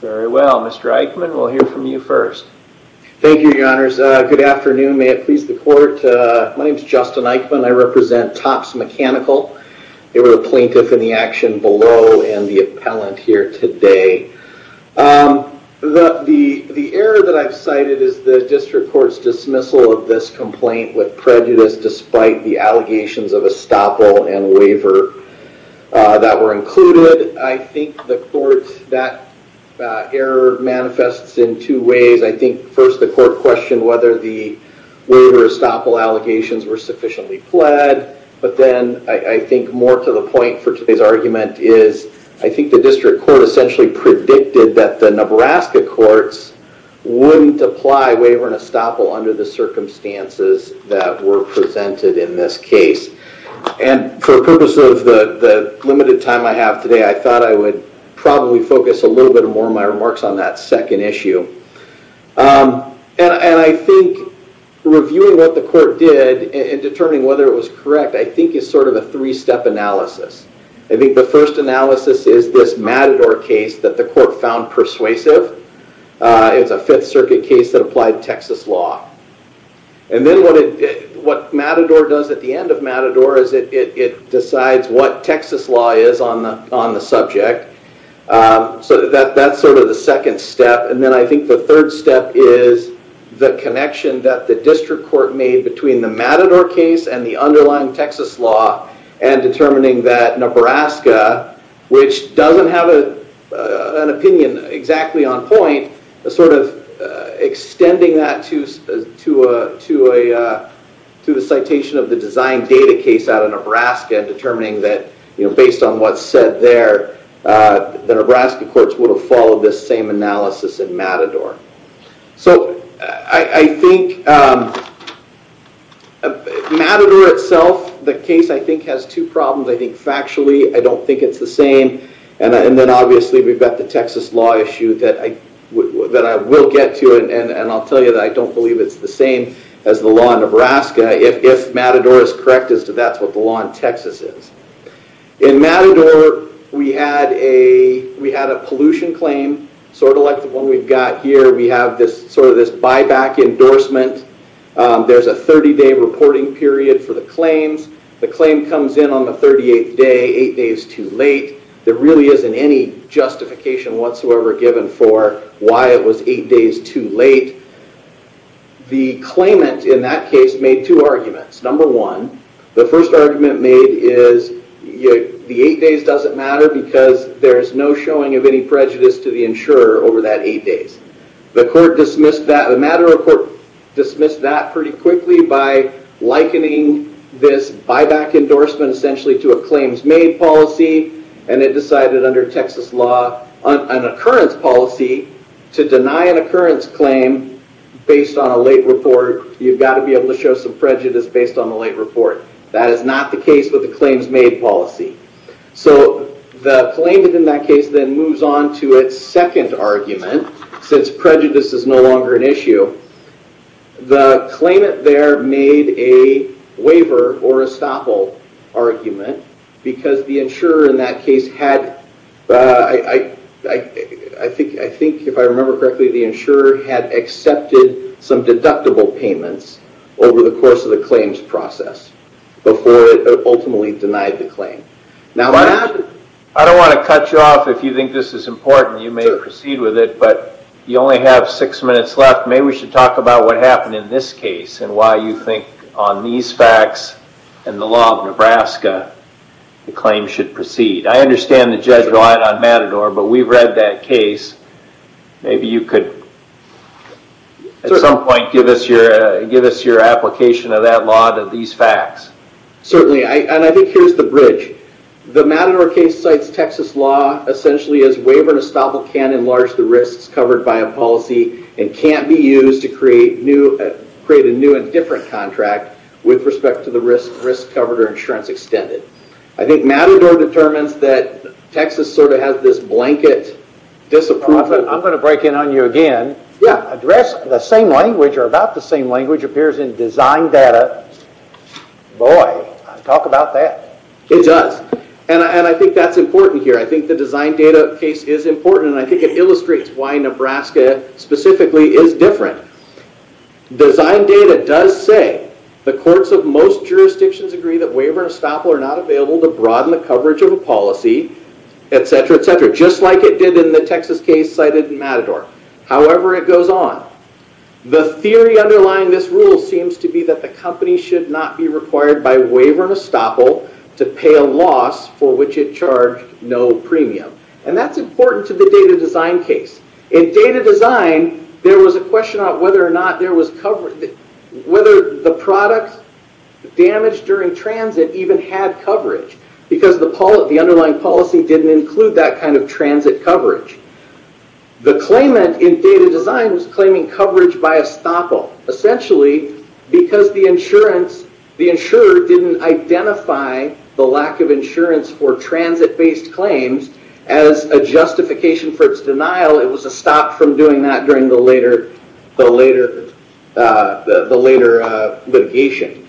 Very well. Mr. Eichmann, we'll hear from you first. Thank you, your honors. Good afternoon. May it please the court. My name is Justin Eichmann. I represent Topp's Mechanical. They were the plaintiff in the action below and the appellant here today. The error that I've cited is the district court's dismissal of this complaint with prejudice despite the allegations of estoppel and waiver that were included. I think the court, that error manifests in two ways. I think first the court questioned whether the waiver estoppel allegations were sufficiently pled, but then I think more to the point for today's argument is I think the district court essentially predicted that the Nebraska courts wouldn't apply waiver and estoppel under the circumstances that were presented in this case. And for the purpose of the limited time I have today, I thought I would probably focus a little bit more my remarks on that second issue. And I think reviewing what the court did and determining whether it was correct I think is sort of a three-step analysis. I think the first analysis is this Matador case that the court found persuasive. It's a Fifth Circuit case that applied Texas law. And then what Matador does at the end of Matador is it decides what Texas law is on the on the subject. So that's sort of the second step. And then I think the third step is the connection that the district court made between the Matador case and the underlying Texas law and determining that Nebraska, which doesn't have an opinion exactly on point, a sort of extending that to the citation of the design data case out of Nebraska and determining that, you know, based on what's said there, the Nebraska courts would have followed this same analysis in Matador. So I think Matador itself, the case I think has two problems. I think factually I don't think it's the same as the law in Nebraska if Matador is correct as to that's what the law in Texas is. In Matador we had a we had a pollution claim sort of like the one we've got here. We have this sort of this buyback endorsement. There's a 30-day reporting period for the claims. The claim comes in on the 38th day. Eight days too late. There really isn't any justification whatsoever given for why it was eight days too late. The claimant in that case made two arguments. Number one, the first argument made is the eight days doesn't matter because there's no showing of any prejudice to the insurer over that eight days. The court dismissed that, the Matador court dismissed that pretty quickly by likening this buyback endorsement essentially to a claims made policy and it decided under Texas law on occurrence policy to deny an occurrence claim based on a late report you've got to be able to show some prejudice based on the late report. That is not the case with the claims made policy. So the claimant in that case then moves on to its second argument since prejudice is no longer an issue. The claimant there made a waiver or estoppel argument because the insurer in that case had, I think if I remember correctly, the insurer had accepted some deductible payments over the course of the claims process before it ultimately denied the claim. I don't want to cut you off if you think this is important. You may proceed with it but you only have six minutes left. Maybe we should talk about what happened in this case and why you think on these facts and the law of Nebraska the claim should proceed. I understand the judge relied on Matador but we've read that case. Maybe you could at some point give us your give us your application of that law to these facts. Certainly and I think here's the bridge. The Matador case cites Texas law essentially as waiver and estoppel can enlarge the risks covered by a policy and can't be used to create a new and different contract with respect to the risk covered or insurance extended. I think Matador determines that Texas sort of has this blanket disapproval. I'm gonna break in on you again. Yeah, address the same language or about the same language appears in design data. Boy, talk about that. It does and I think that's important here. I think the design data case is important and I think it illustrates why Nebraska specifically is different. Design data does say the courts of most jurisdictions agree that waiver and estoppel are not available to broaden the coverage of a policy, etc. etc. Just like it did in the Texas case cited in Matador. However, it goes on. The theory underlying this rule seems to be that the company should not be required by no premium and that's important to the data design case. In data design, there was a question on whether or not there was coverage, whether the product damaged during transit even had coverage because the underlying policy didn't include that kind of transit coverage. The claimant in data design was claiming coverage by estoppel essentially because the insurer didn't identify the lack of claims as a justification for its denial. It was a stop from doing that during the later litigation.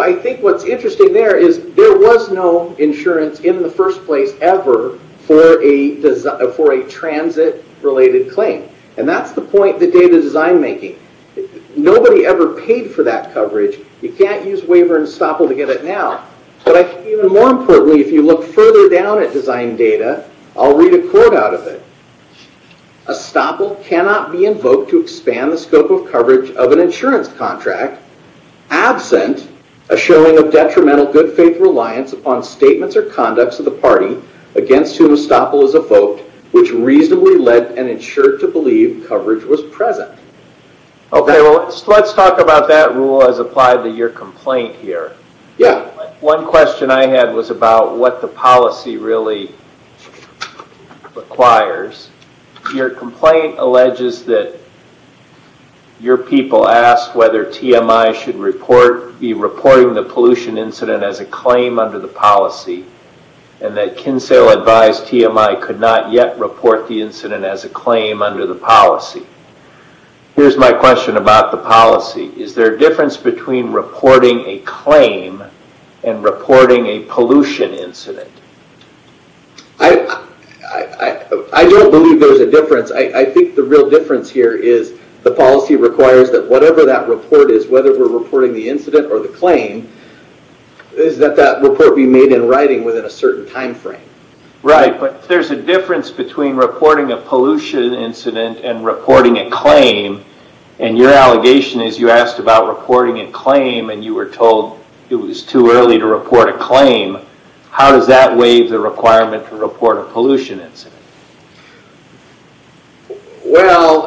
I think what's interesting there is there was no insurance in the first place ever for a transit related claim. That's the point that data design making. Nobody ever paid for that coverage. You can't use waiver and estoppel to get it now. Even more importantly, if you look further down at design data, I'll read a quote out of it. Estoppel cannot be invoked to expand the scope of coverage of an insurance contract absent a showing of detrimental good faith reliance upon statements or conducts of the party against whom estoppel is evoked which reasonably led an insurer to believe coverage was present. Okay, well let's talk about that rule as applied to your policy really requires. Your complaint alleges that your people asked whether TMI should be reporting the pollution incident as a claim under the policy and that Kinsale advised TMI could not yet report the incident as a claim under the policy. Here's my question about the policy. Is there a difference between reporting a claim and reporting a pollution incident? I don't believe there's a difference. I think the real difference here is the policy requires that whatever that report is, whether we're reporting the incident or the claim, is that that report be made in writing within a certain time frame. Right, but there's a difference between reporting a pollution incident and reporting a claim and you were told it was too early to report a claim. How does that waive the requirement to report a pollution incident? Well,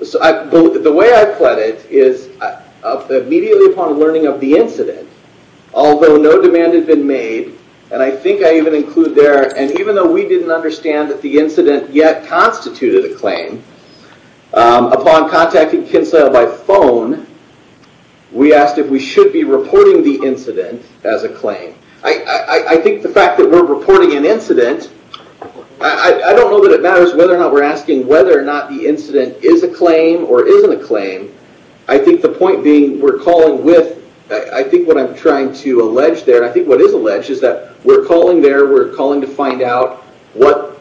the way I pledged it is immediately upon learning of the incident, although no demand had been made and I think I even include there and even though we didn't understand that the incident yet constituted a claim, upon contacting Kinsale by phone, we asked if we should be reporting the incident as a claim. I think the fact that we're reporting an incident, I don't know that it matters whether or not we're asking whether or not the incident is a claim or isn't a claim. I think the point being we're calling with, I think what I'm trying to allege there, I think what is alleged is that we're calling there, we're calling to find out what,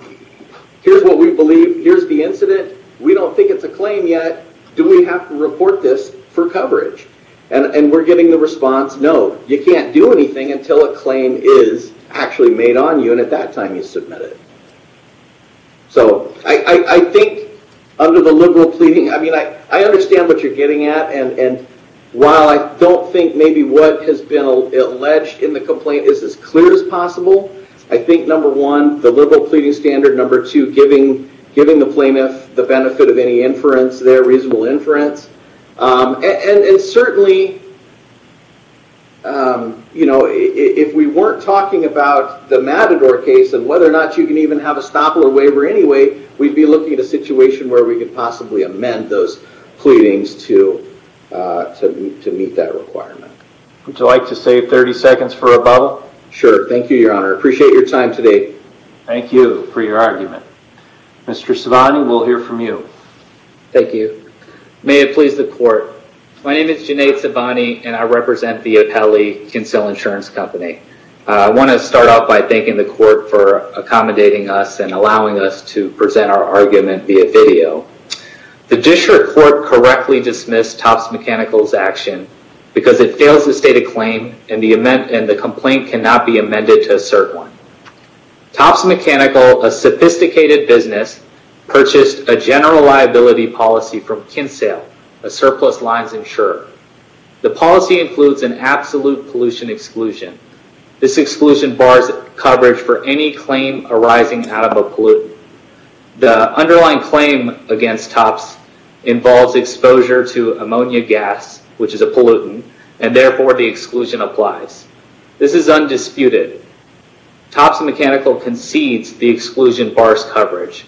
here's what we believe, here's the incident, we don't think it's a claim yet, do we have to report this for coverage? And we're getting the response, no, you can't do anything until a claim is actually made on you and at that time you submit it. So I think under the liberal pleading, I mean I understand what you're getting at and while I don't think maybe what has been alleged in the complaint is as clear as possible, I think number one, the liberal pleading standard, number two, giving the plaintiff the benefit of any inference there, reasonable inference, and certainly, you know, if we weren't talking about the Matador case and whether or not you can even have a stop or waiver anyway, we'd be looking at a situation where we could possibly amend those pleadings to meet that requirement. Would you like to save 30 seconds for a bubble? Sure, thank you your honor, appreciate your time today. Thank you for your argument. Mr. Savani, we'll hear from you. Thank you. May it please the court, my name is Junaid Savani and I represent the Apelli Kinsel Insurance Company. I want to start off by thanking the court for accommodating us and allowing us to present our argument via video. The Disher court correctly dismissed Topps Mechanical's action because it fails to state a claim and the complaint cannot be amended to assert one. Topps Mechanical, a sophisticated business, purchased a general liability policy from Kinsel, a surplus lines insurer. The policy includes an absolute pollution exclusion. This exclusion bars coverage for any claim arising out of a pollutant. The underlying claim against Topps involves exposure to ammonia gas, which is a hazardous gas. This is undisputed. Topps Mechanical concedes the exclusion bars coverage.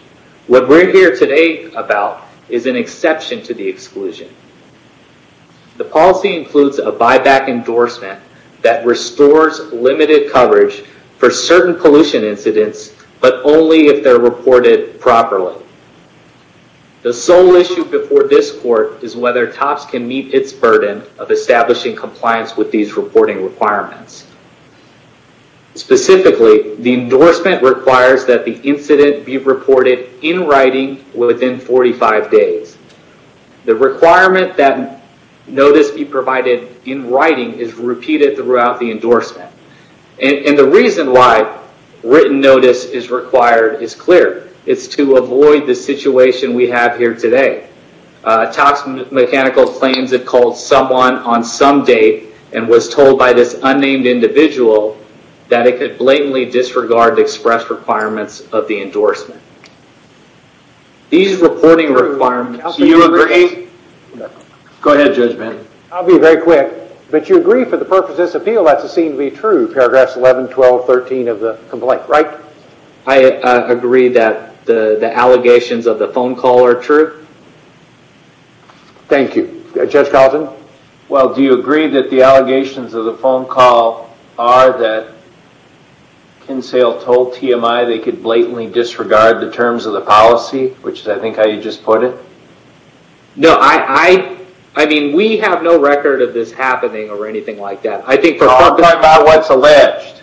What we're here today about is an exception to the exclusion. The policy includes a buyback endorsement that restores limited coverage for certain pollution incidents, but only if they're reported properly. The sole issue before this court is whether Topps can meet its burden of establishing compliance with these reporting requirements. Specifically, the endorsement requires that the incident be reported in writing within 45 days. The requirement that notice be provided in writing is repeated throughout the endorsement. The reason why written notice is required is clear. It's to avoid the situation we have here today. Topps Mechanical claims it called someone on some date and was told by this unnamed individual that it could blatantly disregard the express requirements of the endorsement. These reporting requirements... Do you agree? Go ahead, Judge Bennett. I'll be very quick, but you agree for the purpose of this appeal that's a scene to be true, paragraphs 11, 12, 13 of the complaint, right? I agree that the the allegations of the phone call are true. Thank you. Judge Galton? Well, do you agree that the allegations of the phone call are that Kinsale told TMI they could blatantly disregard the terms of the policy, which is I think how you just put it? No, I mean we have no record of this happening or anything like that. I think... I'm talking about what's alleged.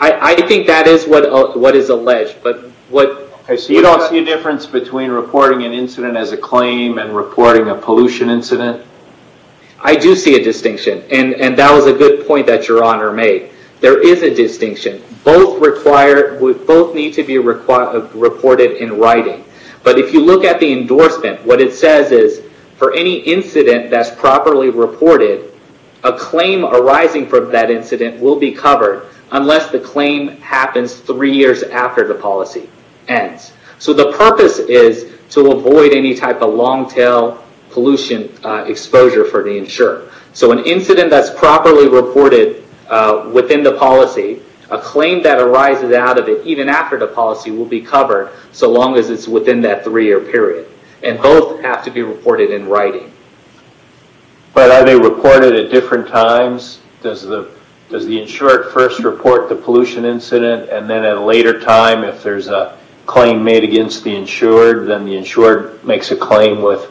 I think that is what is alleged, but what... Okay, so you don't see a difference between reporting an incident as a claim and reporting a pollution incident? I do see a distinction, and that was a good point that Your Honor made. There is a distinction. Both require... Both need to be reported in writing, but if you look at the endorsement, what it says is for any incident that's properly reported, a claim arising from that incident will be covered unless the insurer is aware of it, to avoid any type of long-tail pollution exposure for the insurer. So an incident that's properly reported within the policy, a claim that arises out of it, even after the policy, will be covered so long as it's within that three-year period, and both have to be reported in writing. But are they reported at different times? Does the insurer first report the pollution incident, and then at a later time, if there's a claim made against the insured, then the insurer has to report it? The insured makes a claim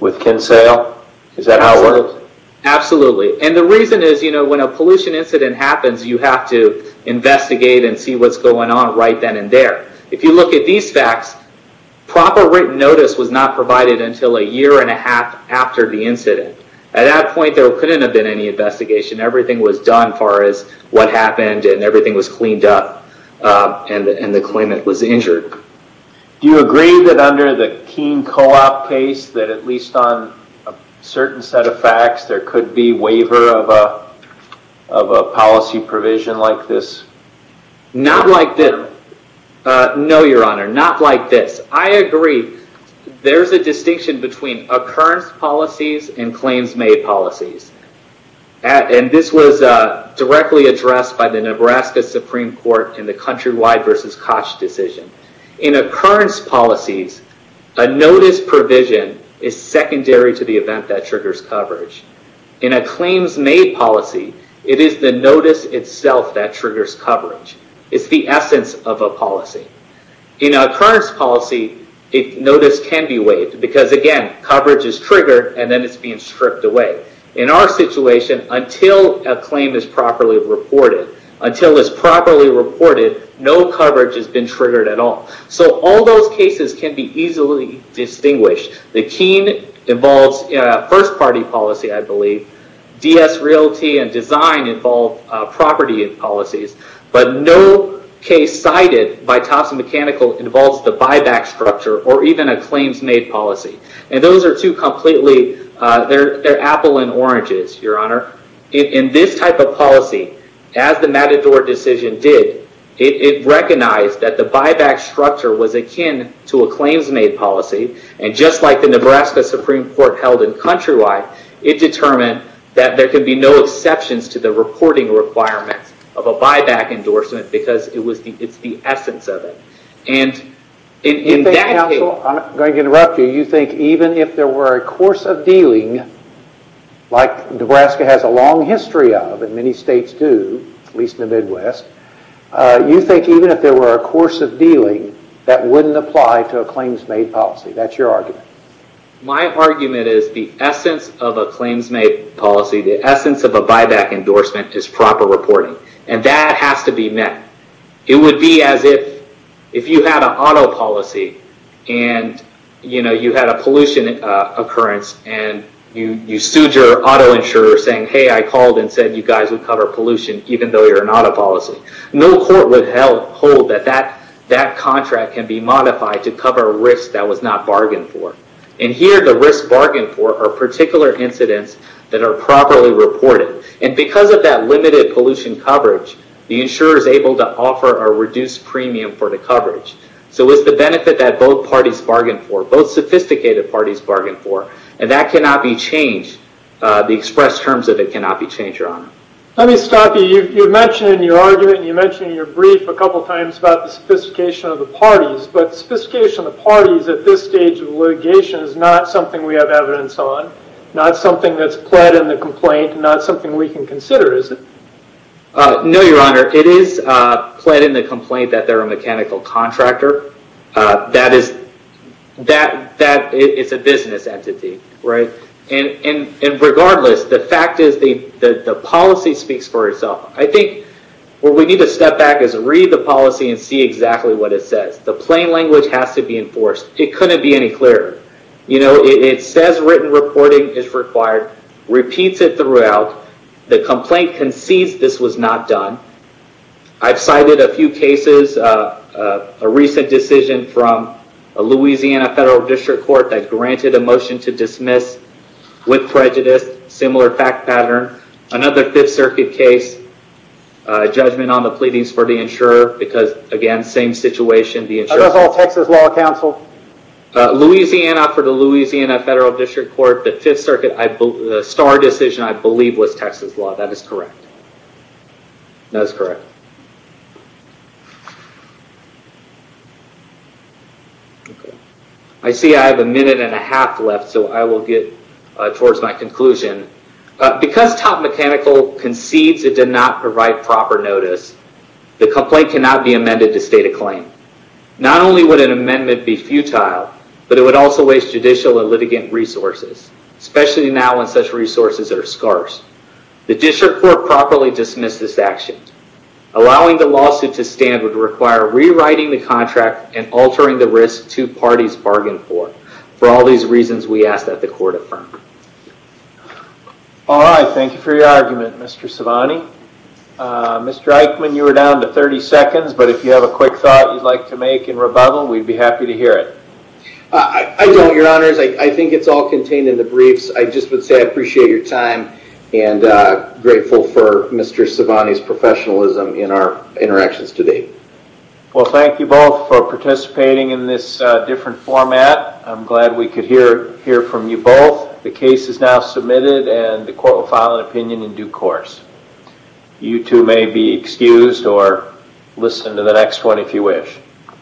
with Kinsale? Is that how it works? Absolutely. And the reason is, when a pollution incident happens, you have to investigate and see what's going on right then and there. If you look at these facts, proper written notice was not provided until a year and a half after the incident. At that point, there couldn't have been any investigation. Everything was done as far as what happened, and everything was cleaned up, and the claimant was injured. Do you agree that under the Keene co-op case, that at least on a certain set of facts, there could be waiver of a policy provision like this? No, Your Honor. Not like this. I agree. There's a distinction between occurrence policies and claims made policies. This was directly addressed by the Nebraska Supreme Court in the Countrywide v. Koch decision. In occurrence policies, a notice provision is secondary to the event that triggers coverage. In a claims made policy, it is the notice itself that triggers coverage. It's the essence of a policy. In occurrence policy, notice can be waived, because again, coverage is triggered, and then it's being stripped away. In our situation, until a claim is properly reported, no coverage has been triggered at all. All those cases can be easily distinguished. The Keene involves first party policy, I believe. DS Realty and Design involve property policies, but no case cited by Thompson Mechanical involves the buyback structure or even a claims made policy. Those are two completely... They're apple and oranges, Your Honor. In this type of policy, as the Matador decision did, it recognized that the buyback structure was akin to a claims made policy. Just like the Nebraska Supreme Court held in Countrywide, it determined that there could be no exceptions to the reporting requirements of a buyback endorsement, because it's the essence of it. In that case... I'm going to interrupt you. You think even if there were a course of dealing, like Nebraska has a long history of, and many states do, at least in the Midwest, you think even if there were a course of dealing, that wouldn't apply to a claims made policy. That's your argument. My argument is the essence of a claims made policy, the essence of a buyback endorsement, is proper reporting, and that has to be met. It would be as if you had an auto policy, and you had a pollution occurrence, and you sued your auto insurer saying, hey, I called and said you guys would cover pollution, even though you're an auto policy. No court would hold that that contract can be modified to cover a risk that was not bargained for. Here, the risk bargained for are particular incidents that are properly reported. Because of that limited pollution coverage, the insurer is able to offer a reduced premium for the coverage. It's the benefit that both parties bargained for, both sophisticated parties bargained for, and that cannot be changed. The expressed terms of it cannot be changed, Your Honor. Let me stop you. You mentioned in your argument, and you mentioned in your brief a couple times about the sophistication of the parties, but the sophistication of the parties at this stage of litigation is not something we have evidence on, not something that's pled in the complaint, not something we can consider, is it? No, Your Honor. It is pled in the complaint that they're a mechanical contractor. That is a business entity, right? And regardless, the fact is the policy speaks for itself. I think what we need to step back is read the policy and see exactly what it says. The plain language has to be enforced. It couldn't be any clearer. It says written reporting is required, repeats it throughout. The complaint concedes this was not done. I've cited a few cases, a recent decision from a Louisiana federal district court that granted a motion to dismiss with prejudice, similar fact pattern. Another Fifth Circuit case, judgment on the pleadings for the insurer, because again, same situation. That was all Texas law counsel? Louisiana for the Louisiana federal district court. The Fifth Circuit, the star decision, I believe, was Texas law. That is correct. That is correct. I see I have a minute and a half left, so I will get towards my conclusion. Because Top Mechanical concedes it did not provide proper notice, the complaint cannot be amended to state a claim. Not only would an amendment be futile, but it would also waste judicial and litigant resources, especially now when such resources are scarce. The district court properly dismissed this action. Allowing the lawsuit to stand would require rewriting the contract and altering the risk two parties bargained for. For all these reasons, we ask that the court affirm. All right, thank you for your argument, Mr. Savani. Mr. Eichmann, you are down to 30 seconds, but if you have a quick thought you'd like to make in rebuttal, we'd be happy to hear it. I don't, your honors. I think it's all contained in the briefs. I just would say I appreciate your time and grateful for Mr. Savani's professionalism in our interactions today. Well, thank you both for participating in this different format. I'm glad we could hear from you both. The case is now submitted and the court will file an opinion in due course. You two may be excused or listen to the next one if you wish.